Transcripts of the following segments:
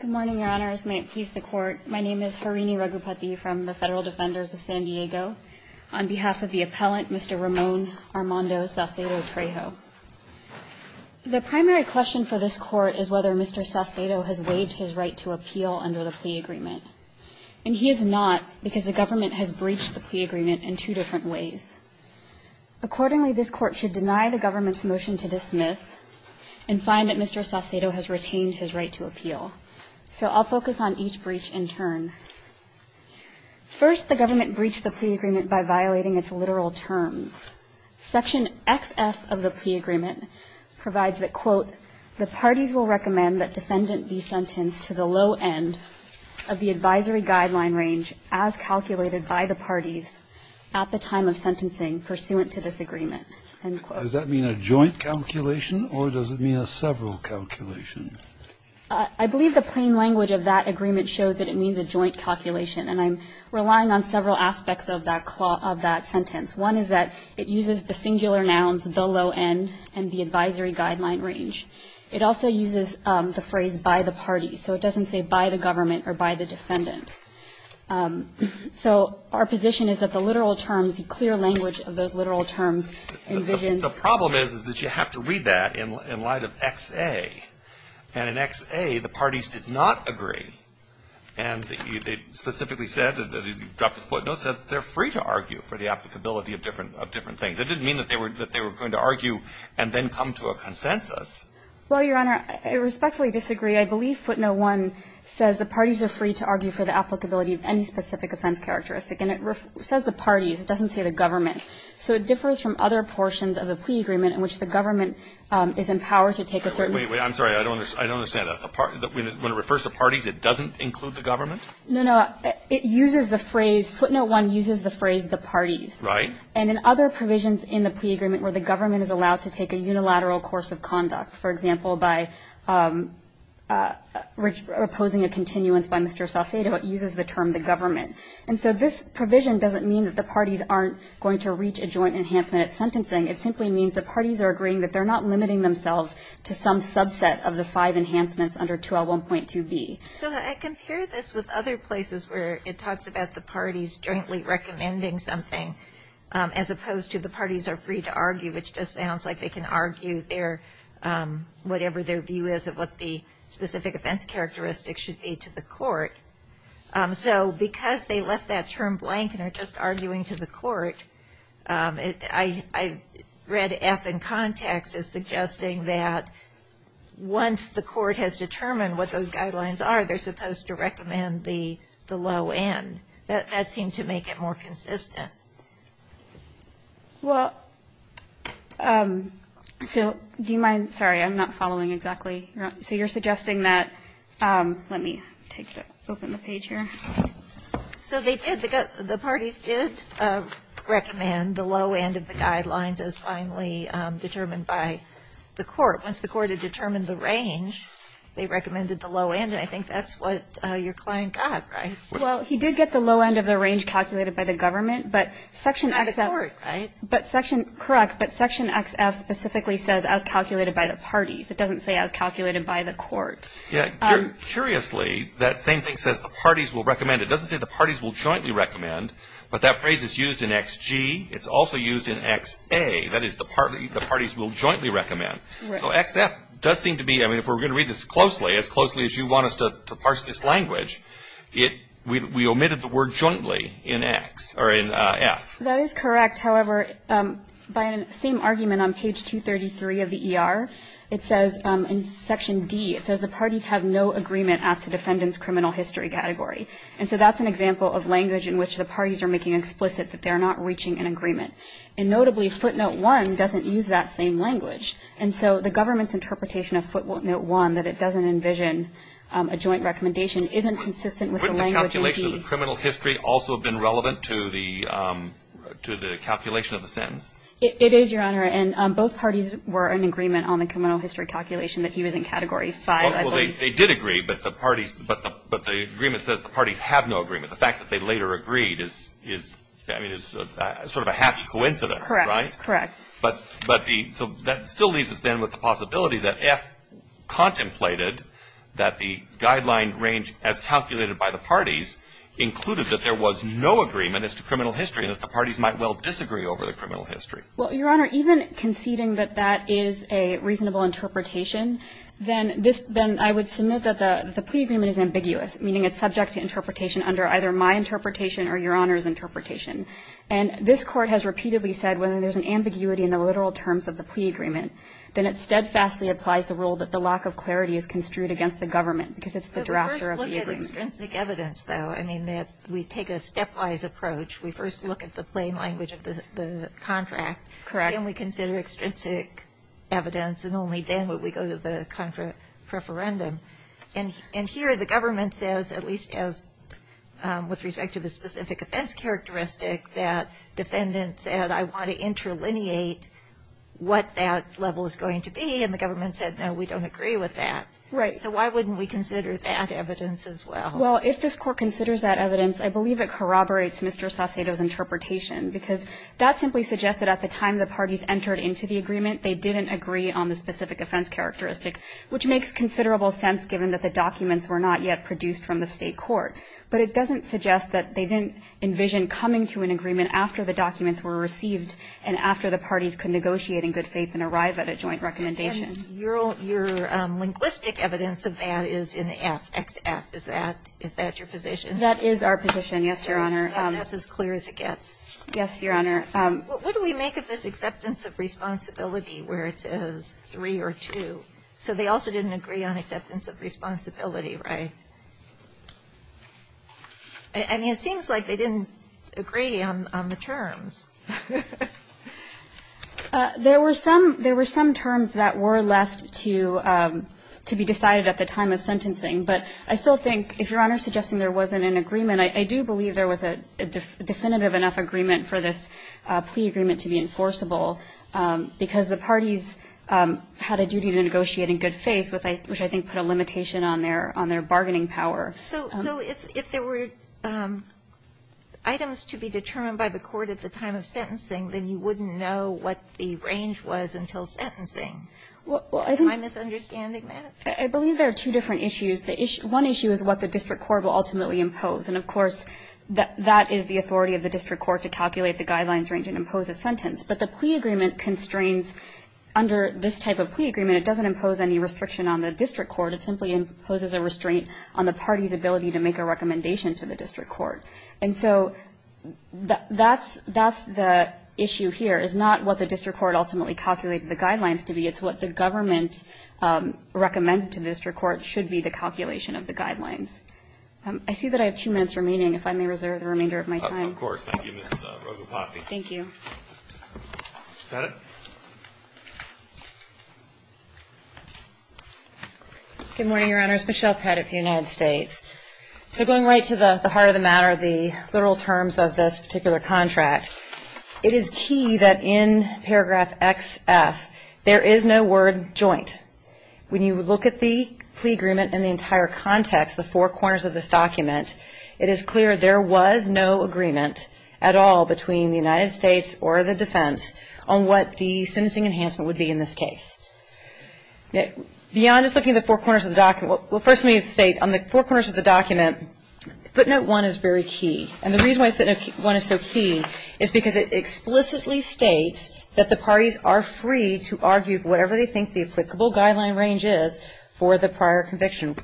Good morning, Your Honors. May it please the Court, my name is Harini Raghupathy from the Federal Defenders of San Diego. On behalf of the appellant, Mr. Ramon Armando Saucedo-Trejo. The primary question for this Court is whether Mr. Saucedo has waived his right to appeal under the plea agreement. And he has not, because the government has breached the plea agreement in two different ways. Accordingly, this Court should deny the government's motion to dismiss and find that Mr. Saucedo has retained his right to appeal. So I'll focus on each breach in turn. First, the government breached the plea agreement by violating its literal terms. Section XF of the plea agreement provides that, quote, The parties will recommend that defendant be sentenced to the low end of the advisory guideline range as calculated by the parties at the time of sentencing pursuant to this agreement. End quote. Does that mean a joint calculation, or does it mean a several calculation? I believe the plain language of that agreement shows that it means a joint calculation, and I'm relying on several aspects of that clause of that sentence. One is that it uses the singular nouns, the low end, and the advisory guideline range. It also uses the phrase by the parties. So it doesn't say by the government or by the defendant. So our position is that the literal terms, the clear language of those literal terms, envisions The problem is, is that you have to read that in light of XA. And in XA, the parties did not agree. And they specifically said, you dropped a footnote, said they're free to argue for the applicability of different things. It didn't mean that they were going to argue and then come to a consensus. Well, Your Honor, I respectfully disagree. I believe footnote 1 says the parties are free to argue for the applicability of any specific offense characteristic. And it says the parties. It doesn't say the government. So it differs from other portions of the plea agreement in which the government is empowered to take a certain way. I'm sorry. I don't understand that. When it refers to parties, it doesn't include the government? No, no. It uses the phrase, footnote 1 uses the phrase the parties. Right. And in other provisions in the plea agreement where the government is allowed to take a unilateral course of conduct, for example, by opposing a continuance by Mr. Saucedo, it uses the term the government. And so this provision doesn't mean that the parties aren't going to reach a joint enhancement at sentencing. It simply means the parties are agreeing that they're not limiting themselves to some subset of the five enhancements under 2L1.2B. So I compare this with other places where it talks about the parties jointly recommending something as opposed to the parties are free to argue, which just sounds like they can argue whatever their view is of what the specific offense characteristic should be to the court. So because they left that term blank and are just arguing to the court, I read F in context as suggesting that once the court has determined what those guidelines are, they're supposed to recommend the low end. That seemed to make it more consistent. Well, so do you mind? Sorry, I'm not following exactly. So you're suggesting that, let me open the page here. So they did, the parties did recommend the low end of the guidelines as finally determined by the court. Once the court had determined the range, they recommended the low end, and I think that's what your client got, right? Well, he did get the low end of the range calculated by the government, but Section XF. It's not the court, right? But Section, correct, but Section XF specifically says as calculated by the parties. It doesn't say as calculated by the court. Curiously, that same thing says the parties will recommend. It doesn't say the parties will jointly recommend, but that phrase is used in XG. It's also used in XA. That is the parties will jointly recommend. So XF does seem to be, I mean, if we're going to read this closely, as closely as you want us to parse this language, we omitted the word jointly in X or in F. That is correct. However, by the same argument on page 233 of the ER, it says in Section D, it says the parties have no agreement as to defendant's criminal history category. And so that's an example of language in which the parties are making explicit that they're not reaching an agreement. And notably, footnote one doesn't use that same language. And so the government's interpretation of footnote one, that it doesn't envision a joint recommendation, isn't consistent with the language in D. Wouldn't the calculation of the criminal history also have been relevant to the calculation of the sentence? It is, Your Honor, and both parties were in agreement on the criminal history calculation that he was in Category 5, I believe. Well, they did agree, but the parties, but the agreement says the parties have no agreement. The fact that they later agreed is, I mean, is sort of a happy coincidence, right? Correct. Correct. But the, so that still leaves us then with the possibility that F contemplated that the guideline range as calculated by the parties included that there was no agreement as to criminal history and that the parties might well disagree over the criminal history. Well, Your Honor, even conceding that that is a reasonable interpretation, then this, then I would submit that the plea agreement is ambiguous, meaning it's subject to interpretation under either my interpretation or Your Honor's interpretation. And this Court has repeatedly said when there's an ambiguity in the literal terms of the plea agreement, then it steadfastly applies the rule that the lack of clarity is construed against the government because it's the drafter of the agreement. But we first look at extrinsic evidence, though. I mean, we take a stepwise approach. We first look at the plain language of the contract. Correct. And we consider extrinsic evidence, and only then would we go to the contra preferendum. And here the government says, at least as with respect to the specific offense characteristic, that defendant said, I want to interlineate what that level is going to be, and the government said, no, we don't agree with that. Right. So why wouldn't we consider that evidence as well? Well, if this Court considers that evidence, I believe it corroborates Mr. Saucedo's interpretation, because that simply suggests that at the time the parties entered into the agreement, they didn't agree on the specific offense characteristic, which makes considerable sense given that the documents were not yet produced from the State court. But it doesn't suggest that they didn't envision coming to an agreement after the documents were received and after the parties could negotiate in good faith and arrive at a joint recommendation. And your linguistic evidence of that is in the F, XF. Is that your position? That is our position, yes, Your Honor. That's as clear as it gets. Yes, Your Honor. What do we make of this acceptance of responsibility where it says 3 or 2? So they also didn't agree on acceptance of responsibility, right? I mean, it seems like they didn't agree on the terms. There were some terms that were left to be decided at the time of sentencing, but I still think, if Your Honor is suggesting there wasn't an agreement, I do believe there was a definitive enough agreement for this plea agreement to be enforceable, because the parties had a duty to negotiate in good faith, which I think put a limitation on their bargaining power. So if there were items to be determined by the court at the time of sentencing, then you wouldn't know what the range was until sentencing. Am I misunderstanding that? I believe there are two different issues. One issue is what the district court will ultimately impose, and of course, that is the authority of the district court to calculate the guidelines range and impose a sentence. But the plea agreement constrains under this type of plea agreement, it doesn't impose any restriction on the district court. It simply imposes a restraint on the party's ability to make a recommendation to the district court. And so that's the issue here. It's not what the district court ultimately calculated the guidelines to be. It's what the government recommended to the district court should be the calculation of the guidelines. I see that I have two minutes remaining, if I may reserve the remainder of my time. Of course. Thank you, Ms. Rogopathy. Thank you. Is that it? Good morning, Your Honors. Michelle Pettit for the United States. So going right to the heart of the matter, the literal terms of this particular contract, it is key that in paragraph XF, there is no word joint. When you look at the plea agreement in the entire context, the four corners of this document, it is clear there was no agreement at all between the United States or the defense on what the sentencing enhancement would be in this case. Beyond just looking at the four corners of the document, well, first let me state, on the four corners of the document, footnote one is very key. And the reason why footnote one is so key is because it explicitly states that the parties are free to argue whatever they think the applicable guideline range is for the prior conviction.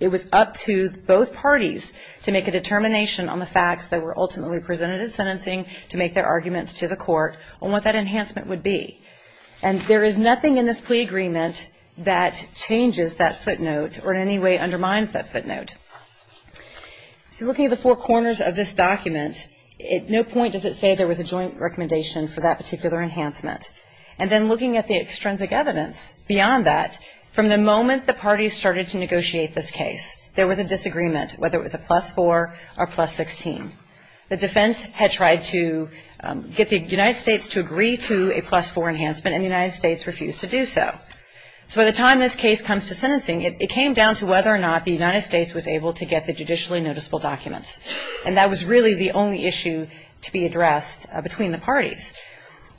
It was up to both parties to make a determination on the facts that were ultimately presented at sentencing to make their arguments to the court on what that enhancement would be. And there is nothing in this plea agreement that changes that footnote or in any way undermines that footnote. So looking at the four corners of this document, at no point does it say there was a joint recommendation for that particular enhancement. And then looking at the extrinsic evidence beyond that, from the moment the parties started to negotiate this case, there was a disagreement, whether it was a plus 4 or plus 16. The defense had tried to get the United States to agree to a plus 4 enhancement and the United States refused to do so. So by the time this case comes to sentencing, it came down to whether or not the United States was able to get the judicially noticeable documents. And that was really the only issue to be addressed between the parties.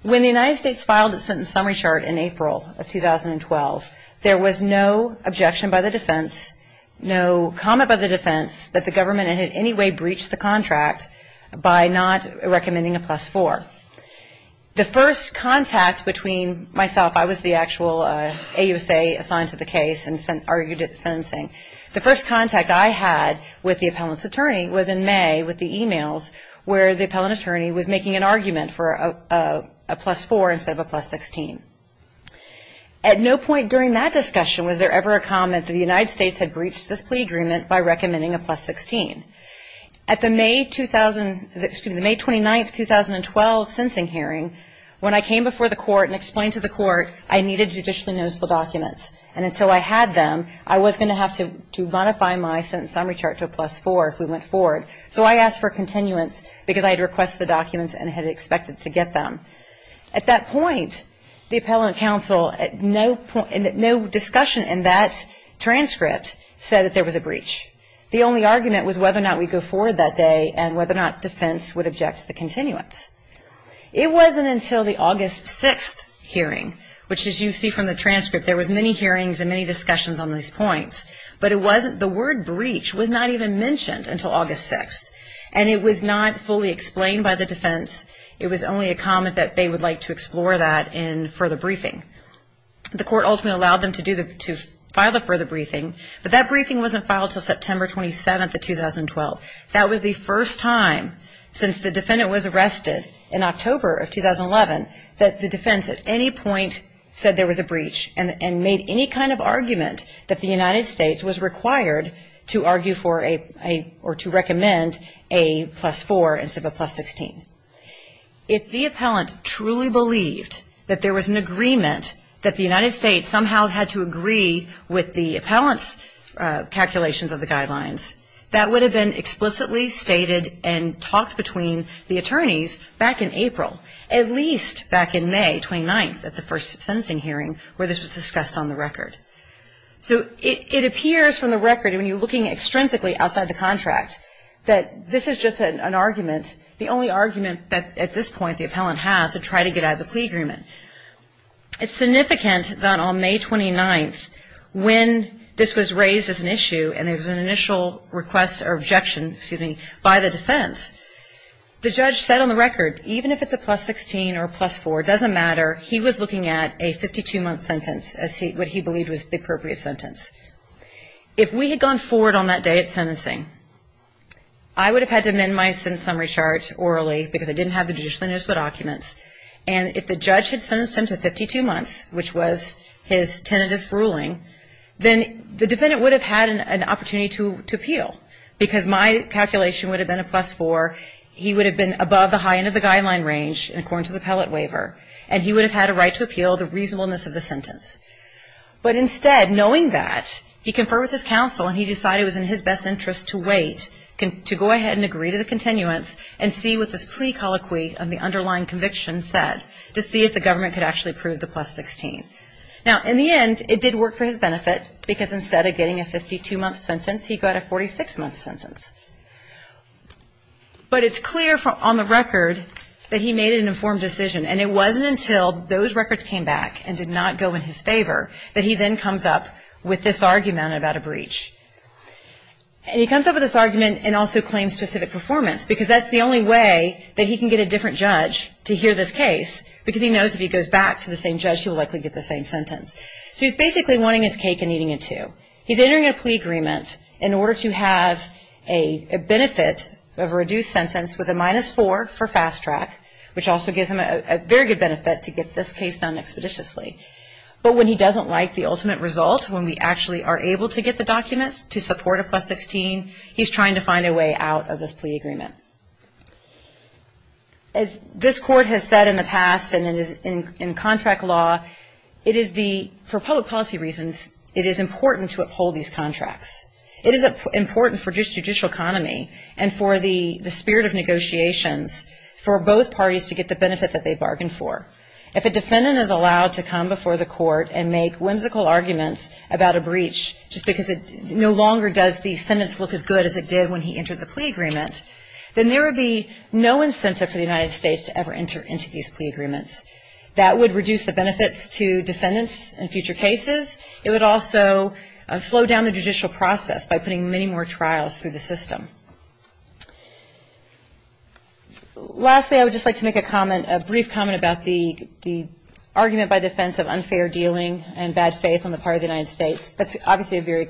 When the United States filed its sentence summary chart in April of 2012, there was no objection by the defense, no comment by the defense that the government had in any way breached the contract by not recommending a plus 4. The first contact between myself, I was the actual AUSA assigned to the case and argued at the sentencing, the first contact I had with the appellant's attorney was in May with the e-mails where the appellant attorney was making an argument for a plus 4 instead of a plus 16. At no point during that discussion was there ever a comment that the United At the May 20, excuse me, the May 29, 2012, sentencing hearing, when I came before the court and explained to the court I needed judicially noticeable documents. And until I had them, I was going to have to modify my sentence summary chart to a plus 4 if we went forward. So I asked for continuance because I had requested the documents and had expected to get them. At that point, the appellant counsel at no point, no discussion in that transcript said that there was a breach. The only argument was whether or not we go forward that day and whether or not defense would object to the continuance. It wasn't until the August 6th hearing, which as you see from the transcript, there was many hearings and many discussions on these points. But it wasn't, the word breach was not even mentioned until August 6th. And it was not fully explained by the defense. It was only a comment that they would like to explore that in further briefing. The court ultimately allowed them to do the, to file the further briefing. But that briefing wasn't filed until September 27th of 2012. That was the first time since the defendant was arrested in October of 2011 that the defense at any point said there was a breach and made any kind of argument that the United States was required to argue for a, or to recommend a plus 4 instead of a plus 16. If the appellant truly believed that there was an agreement that the United States was required to argue for a plus 4, that would have been explicitly stated and talked between the attorneys back in April, at least back in May 29th at the first sentencing hearing where this was discussed on the record. So it appears from the record, when you're looking extrinsically outside the contract, that this is just an argument, the only argument that at this point the appellant has to try to get out of the plea agreement. It's significant that on May 29th, when this was raised as an issue and there was an initial request or objection, excuse me, by the defense, the judge said on the record, even if it's a plus 16 or a plus 4, it doesn't matter. He was looking at a 52-month sentence as he, what he believed was the appropriate sentence. If we had gone forward on that day at sentencing, I would have had to amend my sentence summary chart orally because I didn't have the judicially noticeable documents. And if the judge had sentenced him to 52 months, which was his tentative ruling, then the defendant would have had an opportunity to appeal because my calculation would have been a plus 4. He would have been above the high end of the guideline range, according to the appellate waiver, and he would have had a right to appeal the reasonableness of the sentence. But instead, knowing that, he conferred with his counsel and he decided it was in his best interest to wait, to go ahead and agree to the continuance and see what this plea colloquy of the underlying conviction said, to see if the government could actually approve the plus 16. Now, in the end, it did work for his benefit because instead of getting a 52-month sentence, he got a 46-month sentence. But it's clear on the record that he made an informed decision, and it wasn't until those records came back and did not go in his favor that he then comes up with this argument about a breach. And he comes up with this argument and also claims specific performance because that's the only way that he can get a different judge to hear this case because he knows if he goes back to the same judge, he will likely get the same sentence. So he's basically wanting his cake and eating it too. He's entering a plea agreement in order to have a benefit of a reduced sentence with a minus 4 for fast track, which also gives him a very good benefit to get this case done expeditiously. But when he doesn't like the ultimate result, when we actually are able to get the documents to support a plus 16, he's trying to find a way out of this plea agreement. As this court has said in the past and in contract law, for public policy reasons, it is important to uphold these contracts. It is important for judicial economy and for the spirit of negotiations for both parties to get the benefit that they bargained for. If a defendant is allowed to come before the court and make whimsical arguments about a breach just because it no longer does the sentence look as good as it did when he entered the plea agreement, then there would be no incentive for the United States to ever enter into these plea agreements. That would reduce the benefits to defendants in future cases. It would also slow down the judicial process by putting many more trials through the system. Lastly, I would just like to make a comment, a brief comment about the argument by defense of unfair dealing and bad faith on the part of the United States. That's obviously a very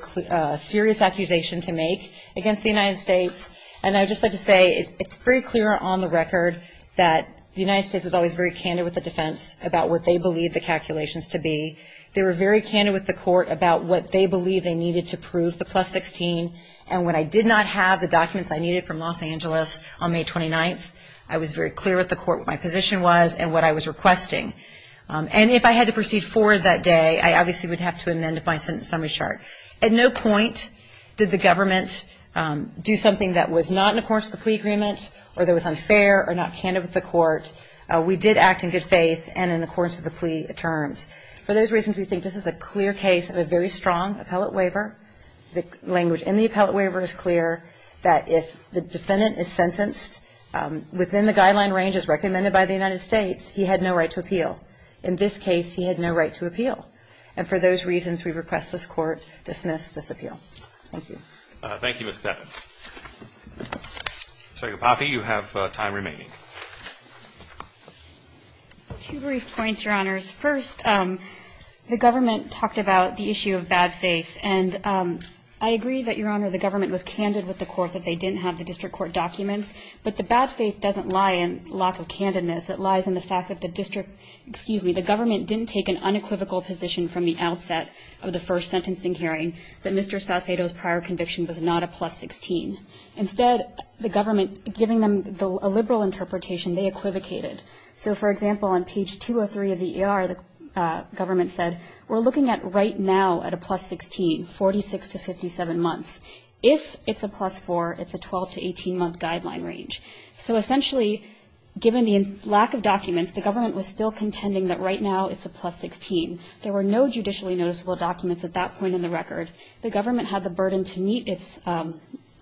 serious accusation to make against the United States, and I would just like to say it's very clear on the record that the United States was always very candid with the defense about what they believed the calculations to be. They were very candid with the court about what they believed they needed to prove the plus 16, and when I did not have the documents I needed from Los Angeles on May 29th, I was very clear with the court what my position was and what I was requesting. And if I had to proceed forward that day, I obviously would have to amend my sentence summary chart. At no point did the government do something that was not in accordance with the plea agreement or that was unfair or not candid with the court. We did act in good faith and in accordance with the plea terms. For those reasons, we think this is a clear case of a very strong appellate waiver. The language in the appellate waiver is clear that if the defendant is sentenced within the guideline ranges recommended by the United States, he had no right to appeal. In this case, he had no right to appeal. And for those reasons, we request this court dismiss this appeal. Thank you. Thank you, Ms. Knapp. Secretary Papi, you have time remaining. Two brief points, Your Honors. First, the government talked about the issue of bad faith, and I agree that, Your Honor, the government was candid with the court that they didn't have the district court documents, but the bad faith doesn't lie in lack of candidness. It lies in the fact that the district, excuse me, the government didn't take an unequivocal position from the outset of the first sentencing hearing that Mr. Saucedo's prior conviction was not a plus 16. Instead, the government, giving them a liberal interpretation, they equivocated. So, for example, on page 203 of the ER, the government said, we're looking at right now at a plus 16, 46 to 57 months. If it's a plus 4, it's a 12 to 18-month guideline range. So, essentially, given the lack of documents, the government was still contending that right now it's a plus 16. There were no judicially noticeable documents at that point in the record. The government had the burden to meet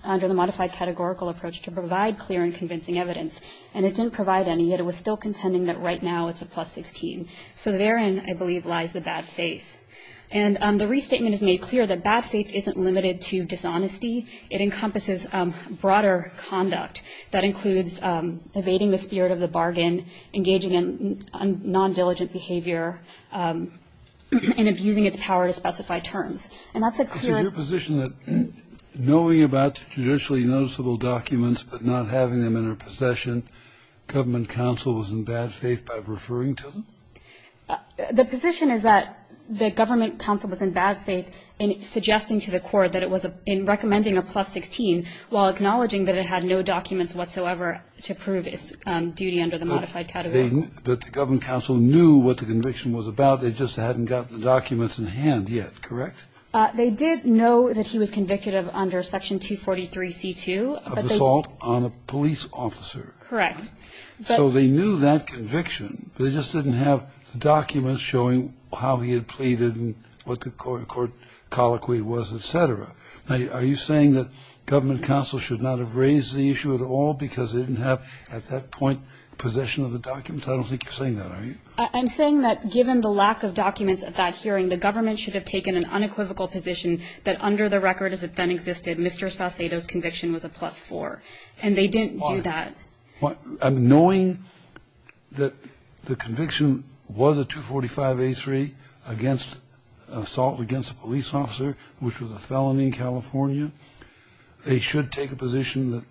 under the modified categorical approach to provide clear and convincing evidence, and it didn't provide any, yet it was still contending that right now it's a plus 16. So therein, I believe, lies the bad faith. And the restatement has made clear that bad faith isn't limited to dishonesty. It encompasses broader conduct. That includes evading the spirit of the bargain, engaging in non-diligent behavior, and abusing its power to specify terms. And that's a clear and ---- Kennedy, knowing about judicially noticeable documents but not having them in her possession, government counsel was in bad faith by referring to them? The position is that the government counsel was in bad faith in suggesting to the court that it was in recommending a plus 16, while acknowledging that it had no documents whatsoever to prove its duty under the modified category. But the government counsel knew what the conviction was about. They just hadn't gotten the documents in hand yet, correct? They did know that he was convicted under Section 243C2. Of assault on a police officer. Correct. So they knew that conviction, but they just didn't have the documents showing how he had pleaded and what the court colloquy was, et cetera. Now, are you saying that government counsel should not have raised the issue at all because they didn't have at that point possession of the documents? I don't think you're saying that, are you? I'm saying that given the lack of documents at that hearing, the government should have taken an unequivocal position that under the record as it then existed, Mr. Saucedo's conviction was a plus 4. And they didn't do that. Knowing that the conviction was a 245A3 against assault against a police officer, which was a felony in California, they should take a position that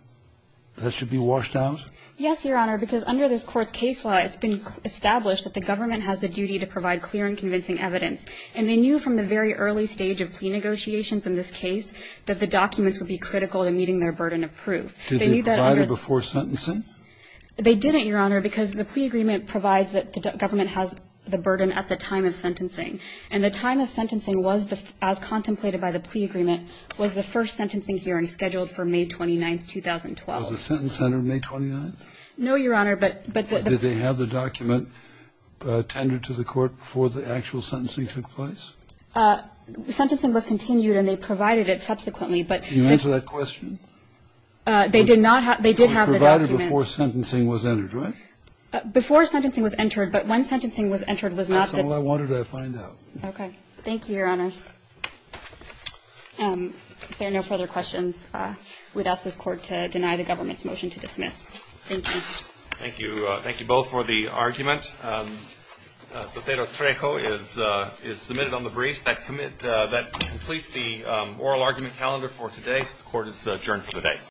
that should be washed out? Yes, Your Honor, because under this Court's case law, it's been established that the government has the duty to provide clear and convincing evidence. And they knew from the very early stage of plea negotiations in this case that the documents would be critical to meeting their burden of proof. Did they provide it before sentencing? They didn't, Your Honor, because the plea agreement provides that the government has the burden at the time of sentencing. And the time of sentencing was, as contemplated by the plea agreement, was the first sentencing hearing scheduled for May 29th, 2012. Was the sentence entered May 29th? No, Your Honor. Did they have the document tendered to the Court before the actual sentencing took place? Sentencing was continued, and they provided it subsequently. Can you answer that question? They did not have the documents. Provided before sentencing was entered, right? Before sentencing was entered, but when sentencing was entered was not the. That's all I wanted to find out. Okay. Thank you, Your Honors. If there are no further questions, we'd ask this Court to deny the government's motion to dismiss. Thank you. Thank you. Thank you both for the argument. Cesero-Trejo is submitted on the briefs. That completes the oral argument calendar for today. Court is adjourned for the day.